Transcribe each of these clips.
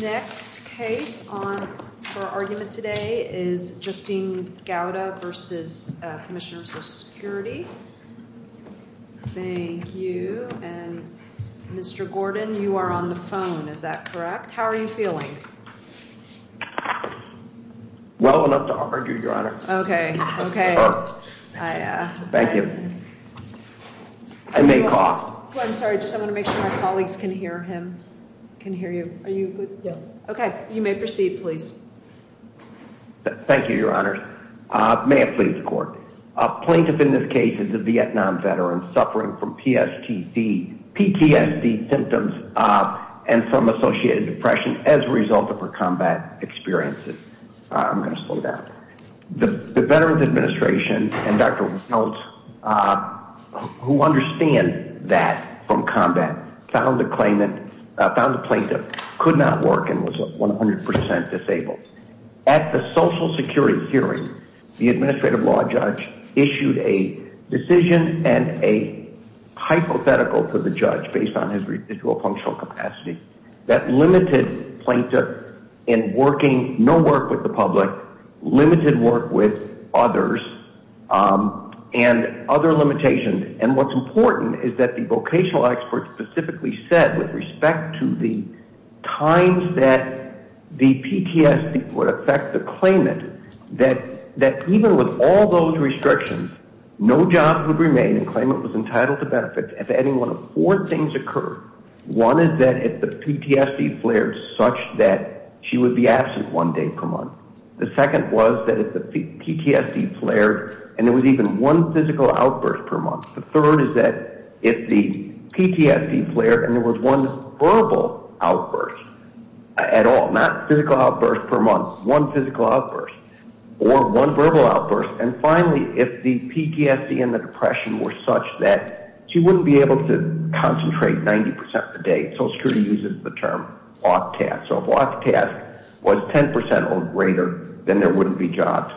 The next case for argument today is Justine Gauda v. Commissioner of Social Security. Thank you. Mr. Gordon, you are on the phone, is that correct? How are you feeling? Well enough to argue, Your Honor. Okay, okay. Thank you. I may call. I'm sorry, I just want to make sure my colleagues can hear him, can hear you. Okay, you may proceed, please. Thank you, Your Honor. May it please the Court. A plaintiff in this case is a Vietnam veteran suffering from PTSD symptoms and some associated depression as a result of her combat experiences. I'm going to slow down. The Veterans Administration and Dr. Welch, who understand that from combat, found the plaintiff could not work and was 100% disabled. At the Social Security hearing, the Administrative Law Judge issued a decision and a hypothetical to the judge based on his residual functional capacity that limited plaintiff in working, no work with the public, limited work with others, and other limitations. And what's important is that the vocational experts specifically said with respect to the times that the PTSD would affect the claimant that even with all those restrictions, no job would remain and the claimant was entitled to benefits if any one of four things occurred. One is that if the PTSD flared such that she would be absent one day per month. The second was that if the PTSD flared and there was even one physical outburst per month. The third is that if the PTSD flared and there was one verbal outburst at all, not physical outburst per month, one physical outburst or one verbal outburst. And finally, if the PTSD and the depression were such that she wouldn't be able to concentrate 90% of the day. Social Security uses the term off-task. So if off-task was 10% or greater, then there wouldn't be jobs.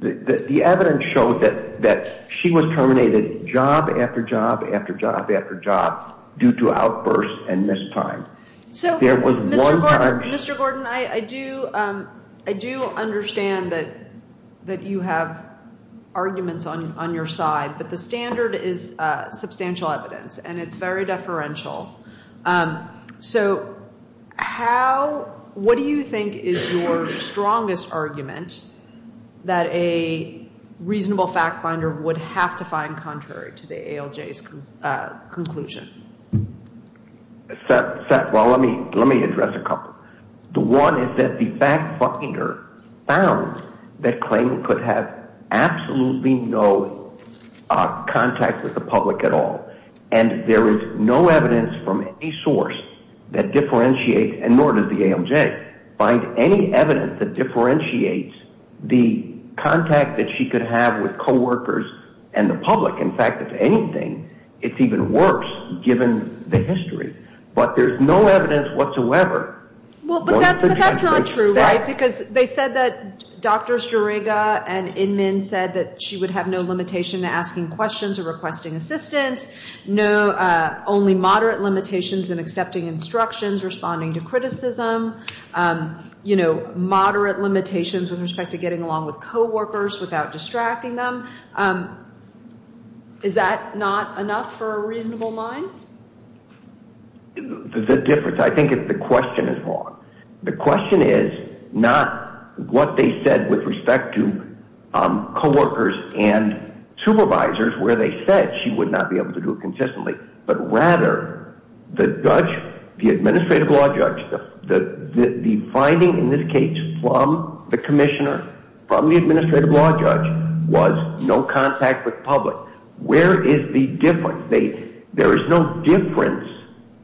The evidence showed that she was terminated job after job after job after job due to outbursts and missed time. So, Mr. Gordon, I do understand that you have arguments on your side, but the standard is substantial evidence and it's very deferential. So what do you think is your strongest argument that a reasonable fact finder would have to find contrary to the ALJ's conclusion? Well, let me address a couple. The one is that the fact finder found that Clayton could have absolutely no contact with the public at all. And there is no evidence from any source that differentiates, and nor does the ALJ, find any evidence that differentiates the contact that she could have with coworkers and the public. In fact, if anything, it's even worse given the history. But there's no evidence whatsoever. Well, but that's not true, right? Because they said that Drs. Jurega and Inman said that she would have no limitation to asking questions or requesting assistance, only moderate limitations in accepting instructions, responding to criticism, moderate limitations with respect to getting along with coworkers without distracting them. Is that not enough for a reasonable mind? There's a difference. I think the question is wrong. The question is not what they said with respect to coworkers and supervisors where they said she would not be able to do it consistently, but rather the judge, the administrative law judge, the finding in this case from the commissioner, from the administrative law judge, was no contact with public. Where is the difference? There is no difference.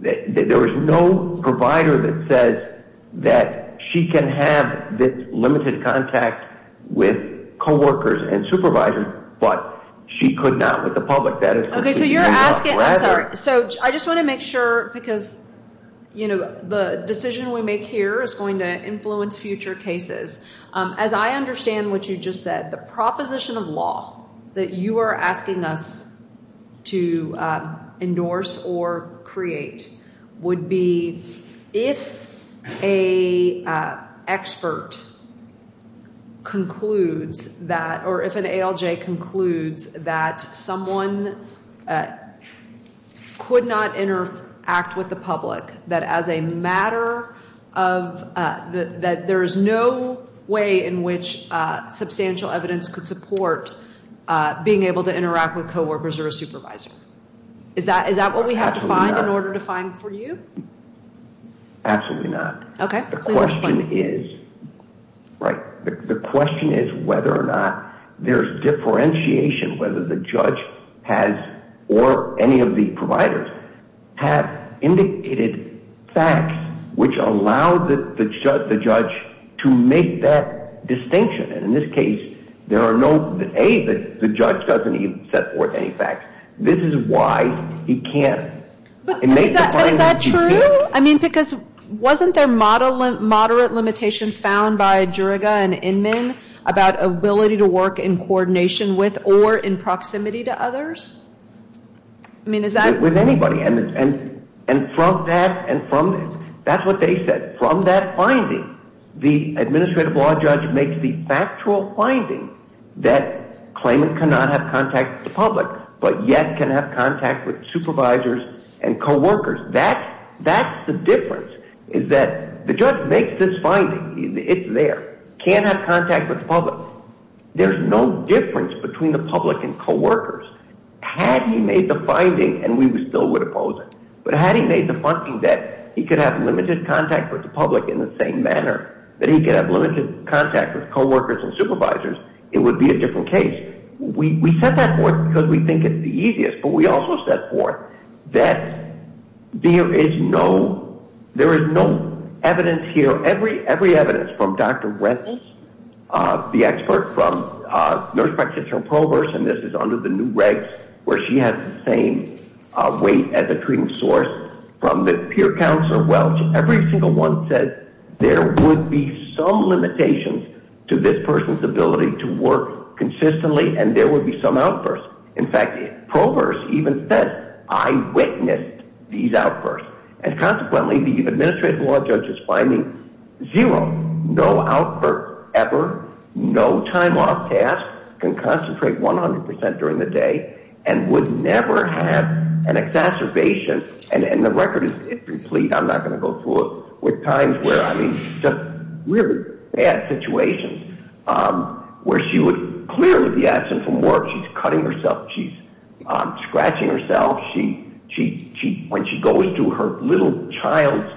There is no provider that says that she can have limited contact with coworkers and supervisors, but she could not with the public. Okay, so you're asking – I'm sorry. So I just want to make sure because, you know, the decision we make here is going to influence future cases. As I understand what you just said, the proposition of law that you are asking us to endorse or create would be if an expert concludes that – in which substantial evidence could support being able to interact with coworkers or a supervisor. Is that what we have to find in order to find for you? Absolutely not. Okay, please explain. Right. The question is whether or not there's differentiation, whether the judge has or any of the providers have indicated facts which allow the judge to make that distinction. And in this case, there are no – A, the judge doesn't even set forth any facts. This is why he can't. But is that true? I mean, because wasn't there moderate limitations found by Juriga and Inman about ability to work in coordination with or in proximity to others? I mean, is that – With anybody. And from that – that's what they said. The administrative law judge makes the factual finding that claimant cannot have contact with the public but yet can have contact with supervisors and coworkers. That's the difference, is that the judge makes this finding. It's there. Can't have contact with the public. Had he made the finding, and we still would oppose it, but had he made the finding that he could have limited contact with the public in the same manner, that he could have limited contact with coworkers and supervisors, it would be a different case. We set that forth because we think it's the easiest, but we also set forth that there is no – there is no evidence here. From every evidence, from Dr. Rettig, the expert, from nurse practitioner Proverse, and this is under the new regs where she has the same weight as a treating source, from the peer counselor Welch, every single one said there would be some limitations to this person's ability to work consistently, and there would be some outbursts. In fact, Proverse even said, I witnessed these outbursts. And consequently, the administrative law judge's finding, zero, no outbursts ever, no time off tasks, can concentrate 100% during the day, and would never have an exacerbation, and the record is incomplete. I'm not going to go through it. With times where, I mean, just really bad situations where she would clearly be absent from work. She's cutting herself. She's scratching herself. When she goes to her little child's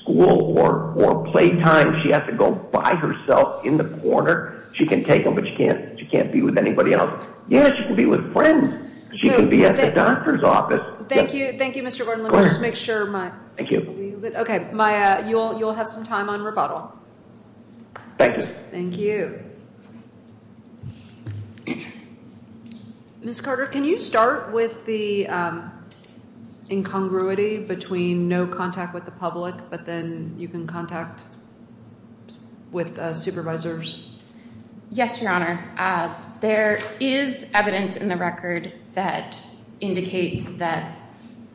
school or playtime, she has to go by herself in the corner. She can take them, but she can't be with anybody else. Yes, she can be with friends. She can be at the doctor's office. Thank you. Thank you, Mr. Gordon. Let me just make sure my – Thank you. Okay, Maya, you'll have some time on rebuttal. Thank you. Thank you. Great. Ms. Carter, can you start with the incongruity between no contact with the public, but then you can contact with supervisors? Yes, Your Honor. There is evidence in the record that indicates that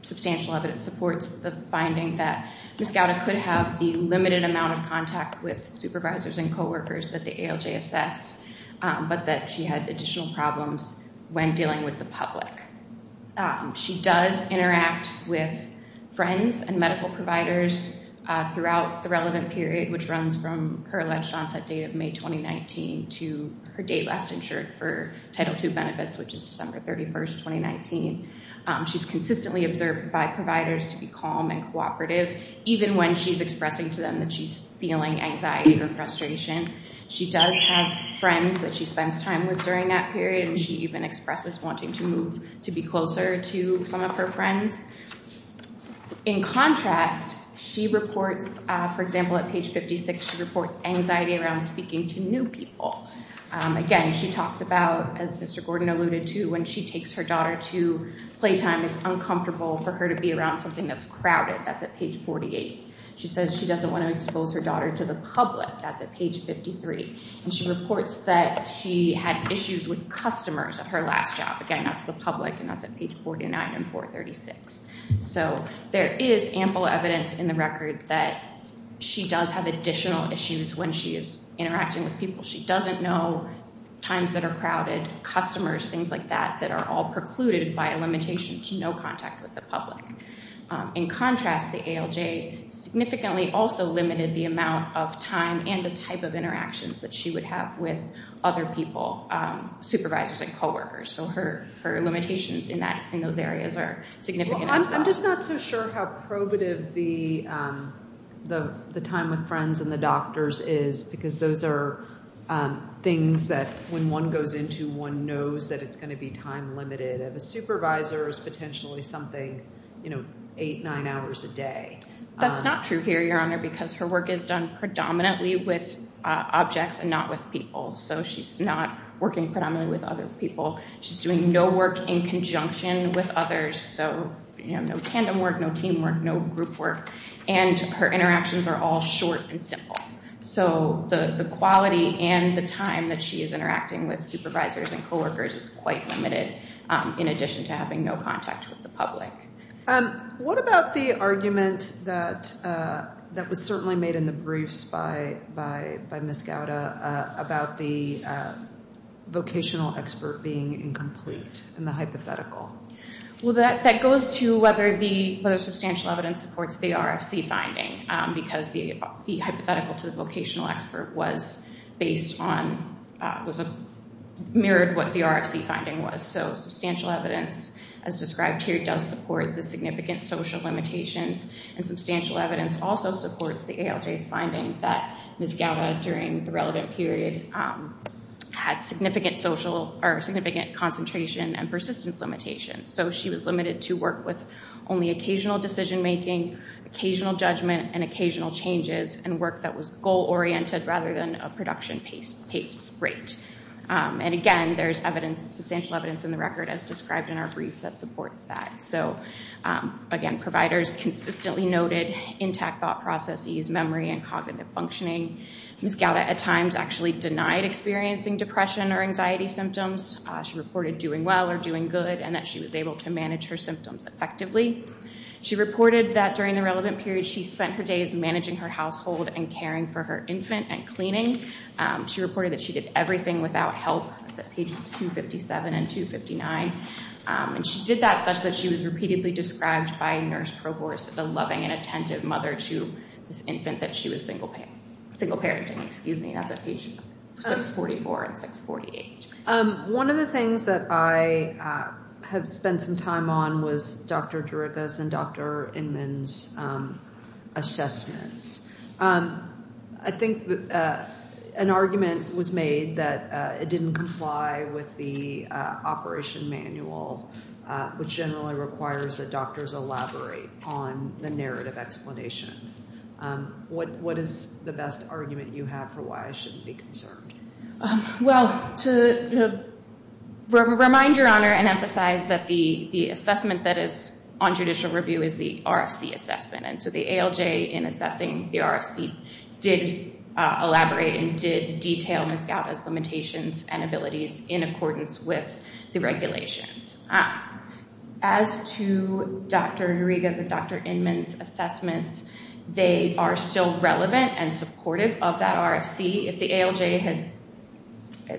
substantial evidence supports the finding that Ms. Gowda could have the limited amount of contact with supervisors and coworkers that the ALJ assessed, but that she had additional problems when dealing with the public. She does interact with friends and medical providers throughout the relevant period, which runs from her alleged onset date of May 2019 to her date last insured for Title II benefits, which is December 31, 2019. She's consistently observed by providers to be calm and cooperative, even when she's expressing to them that she's feeling anxiety or frustration. She does have friends that she spends time with during that period, and she even expresses wanting to move to be closer to some of her friends. In contrast, she reports, for example, at page 56, she reports anxiety around speaking to new people. Again, she talks about, as Mr. Gordon alluded to, when she takes her daughter to playtime, it's uncomfortable for her to be around something that's crowded. That's at page 48. She says she doesn't want to expose her daughter to the public. That's at page 53. And she reports that she had issues with customers at her last job. Again, that's the public, and that's at page 49 and 436. So there is ample evidence in the record that she does have additional issues when she is interacting with people. She doesn't know times that are crowded, customers, things like that, that are all precluded by a limitation to no contact with the public. In contrast, the ALJ significantly also limited the amount of time and the type of interactions that she would have with other people, supervisors and coworkers. So her limitations in those areas are significant as well. I'm just not so sure how probative the time with friends and the doctors is, because those are things that when one goes into, one knows that it's going to be time limited. A supervisor is potentially something, you know, eight, nine hours a day. That's not true here, Your Honor, because her work is done predominantly with objects and not with people. So she's not working predominantly with other people. She's doing no work in conjunction with others, so, you know, no tandem work, no teamwork, no group work. And her interactions are all short and simple. So the quality and the time that she is interacting with supervisors and coworkers is quite limited, What about the argument that was certainly made in the briefs by Ms. Gowda about the vocational expert being incomplete in the hypothetical? Well, that goes to whether substantial evidence supports the RFC finding, because the hypothetical to the vocational expert was based on, was mirrored what the RFC finding was. So substantial evidence, as described here, does support the significant social limitations, and substantial evidence also supports the ALJ's finding that Ms. Gowda, during the relevant period, had significant social or significant concentration and persistence limitations. So she was limited to work with only occasional decision-making, occasional judgment, and occasional changes, and work that was goal-oriented rather than a production pace rate. And, again, there's evidence, substantial evidence in the record, as described in our brief, that supports that. So, again, providers consistently noted intact thought processes, memory, and cognitive functioning. Ms. Gowda, at times, actually denied experiencing depression or anxiety symptoms. She reported doing well or doing good, and that she was able to manage her symptoms effectively. She reported that, during the relevant period, she spent her days managing her household and caring for her infant and cleaning. She reported that she did everything without help. That's at pages 257 and 259. And she did that such that she was repeatedly described by Nurse Provost as a loving and attentive mother to this infant that she was single parenting. Excuse me, that's at page 644 and 648. One of the things that I have spent some time on was Dr. Derricka's and Dr. Inman's assessments. I think an argument was made that it didn't comply with the operation manual, which generally requires that doctors elaborate on the narrative explanation. What is the best argument you have for why I shouldn't be concerned? Well, to remind Your Honor and emphasize that the assessment that is on judicial review is the RFC assessment. And so the ALJ, in assessing the RFC, did elaborate and did detail Ms. Gauta's limitations and abilities in accordance with the regulations. As to Dr. Derricka's and Dr. Inman's assessments, they are still relevant and supportive of that RFC. If the ALJ had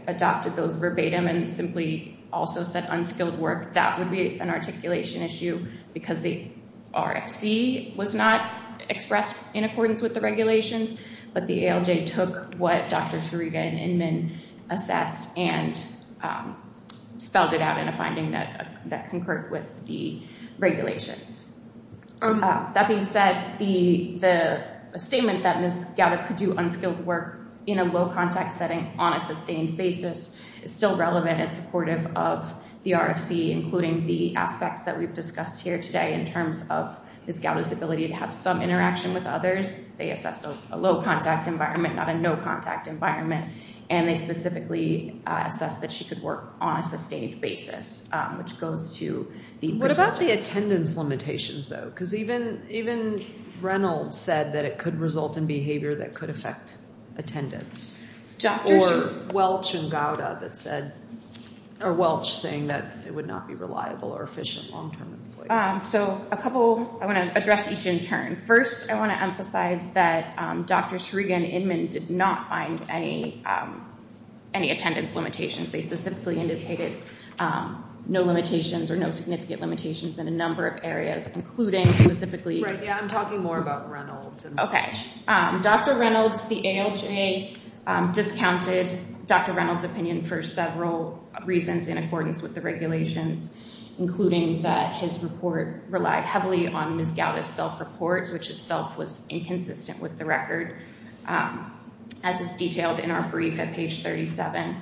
adopted those verbatim and simply also said unskilled work, that would be an articulation issue because the RFC was not expressed in accordance with the regulations. But the ALJ took what Dr. Derricka and Inman assessed and spelled it out in a finding that concurred with the regulations. That being said, the statement that Ms. Gauta could do unskilled work in a low-contact setting on a sustained basis is still relevant and supportive of the RFC, including the aspects that we've discussed here today in terms of Ms. Gauta's ability to have some interaction with others. They assessed a low-contact environment, not a no-contact environment. And they specifically assessed that she could work on a sustained basis, which goes to the persistent. What about the attendance limitations, though? Because even Reynolds said that it could result in behavior that could affect attendance. Or Welch and Gauta that said – or Welch saying that it would not be reliable or efficient long-term employment. So a couple – I want to address each in turn. First, I want to emphasize that Drs. Shriga and Inman did not find any attendance limitations. They specifically indicated no limitations or no significant limitations in a number of areas, including specifically – Right, yeah, I'm talking more about Reynolds. Okay. Dr. Reynolds, the ALJ, discounted Dr. Reynolds' opinion for several reasons in accordance with the regulations, including that his report relied heavily on Ms. Gauta's self-report, which itself was inconsistent with the record, as is detailed in our brief at page 37.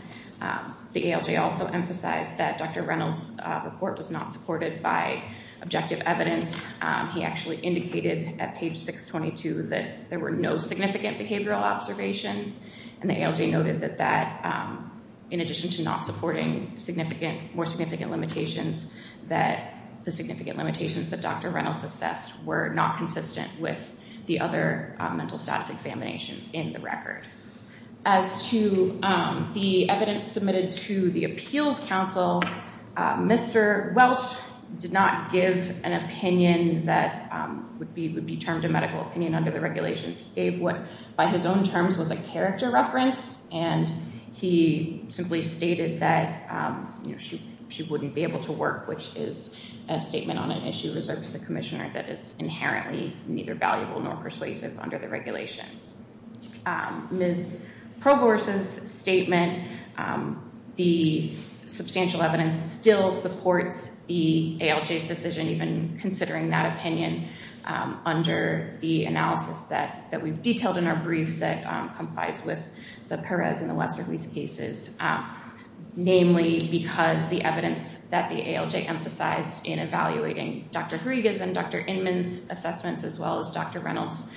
The ALJ also emphasized that Dr. Reynolds' report was not supported by objective evidence. He actually indicated at page 622 that there were no significant behavioral observations, and the ALJ noted that that, in addition to not supporting significant – more significant limitations, that the significant limitations that Dr. Reynolds assessed were not consistent with the other mental status examinations in the record. As to the evidence submitted to the Appeals Council, Mr. Welch did not give an opinion that would be termed a medical opinion under the regulations. He gave what, by his own terms, was a character reference, and he simply stated that she wouldn't be able to work, which is a statement on an issue reserved to the commissioner that is inherently neither valuable nor persuasive under the regulations. Ms. Provorce's statement, the substantial evidence still supports the ALJ's decision, even considering that opinion under the analysis that we've detailed in our brief that complies with the Perez and the Westerly's cases, namely because the evidence that the ALJ emphasized in evaluating Dr. Griega's and Dr. Inman's assessments, as well as Dr. Reynolds'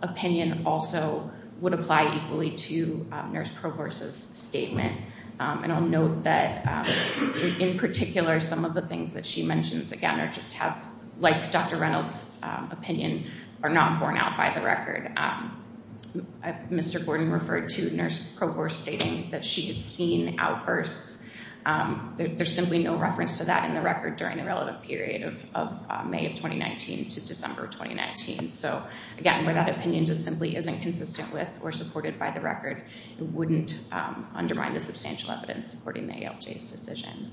opinion, also would apply equally to Nurse Provorce's statement. And I'll note that, in particular, some of the things that she mentions, like Dr. Reynolds' opinion, are not borne out by the record. Mr. Gordon referred to Nurse Provorce stating that she had seen outbursts. There's simply no reference to that in the record during the relative period of May of 2019 to December of 2019. So, again, where that opinion just simply isn't consistent with or supported by the record, it wouldn't undermine the substantial evidence supporting the ALJ's decision.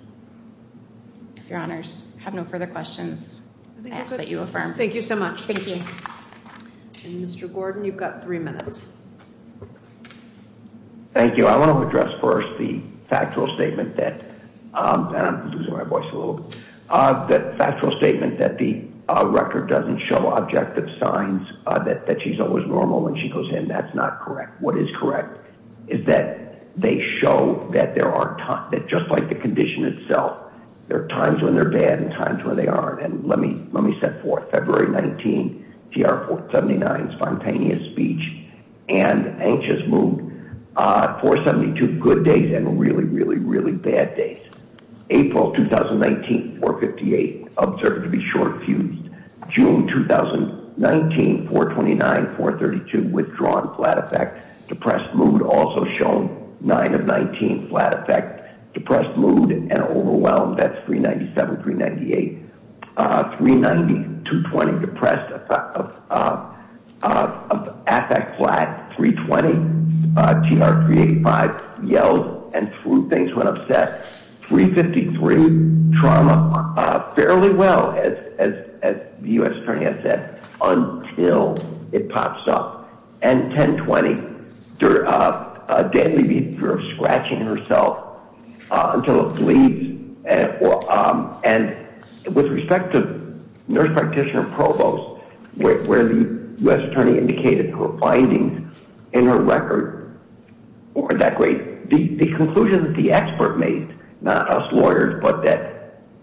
If Your Honors have no further questions, I ask that you affirm. Thank you so much. Thank you. And, Mr. Gordon, you've got three minutes. Thank you. I want to address first the factual statement that, and I'm losing my voice a little bit, the factual statement that the record doesn't show objective signs that she's always normal when she goes in. That's not correct. What is correct is that they show that there are times that, just like the condition itself, there are times when they're bad and times when they aren't. And let me set forth February 19, TR-479, spontaneous speech and anxious mood, 472 good days and really, really, really bad days. April 2019, 458, observed to be short fused. June 2019, 429, 432, withdrawn flat effect. Depressed mood also shown. 9 of 19, flat effect. Depressed mood and overwhelmed. That's 397, 398. 390, 220, depressed effect flat. 320, TR-385, yelled and threw things, went upset. 353, trauma, fairly well, as the U.S. attorney has said, until it pops up. And 1020, deadly fear of scratching herself until it bleeds. And with respect to nurse practitioner provost, where the U.S. attorney indicated findings in her record, the conclusion that the expert made, not us lawyers, but that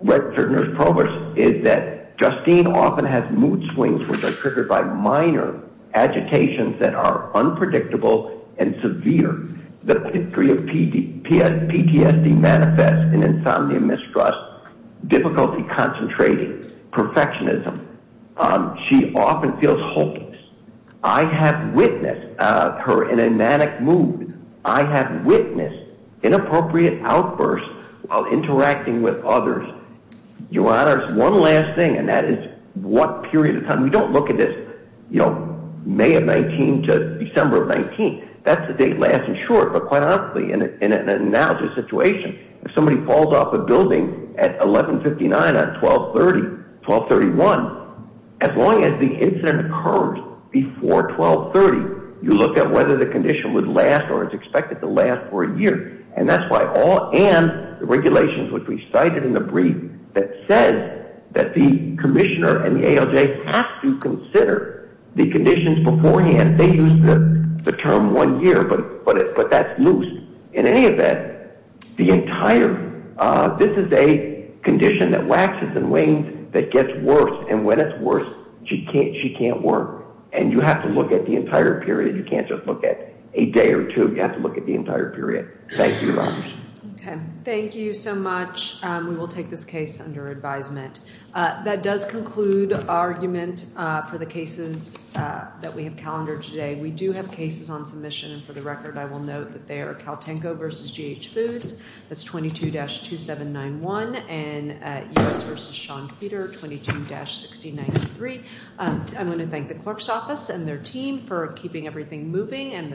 nurse provost, is that Justine often has mood swings which are triggered by minor agitations that are unpredictable and severe. The history of PTSD manifests in insomnia, mistrust, difficulty concentrating, perfectionism. She often feels hopeless. I have witnessed her in a manic mood. I have witnessed inappropriate outbursts while interacting with others. Your Honor, one last thing, and that is what period of time. We don't look at this, you know, May of 19 to December of 19. That's the date last and short. But quite honestly, in an analysis situation, if somebody falls off a building at 1159 at 1230, 1231, as long as the incident occurs before 1230, you look at whether the condition would last or is expected to last for a year. And that's why all and the regulations which we cited in the brief that says that the commissioner and the ALJ have to consider the conditions beforehand. They use the term one year, but that's loose. In any event, this is a condition that waxes and wanes, that gets worse. And when it's worse, she can't work. And you have to look at the entire period. You can't just look at a day or two. You have to look at the entire period. Thank you, Your Honor. Thank you so much. We will take this case under advisement. That does conclude argument for the cases that we have calendared today. We do have cases on submission. And for the record, I will note that they are Caltenko v. GH Foods. That's 22-2791. And U.S. v. Sean Peter, 22-1693. I want to thank the Corp's office and their team for keeping everything moving.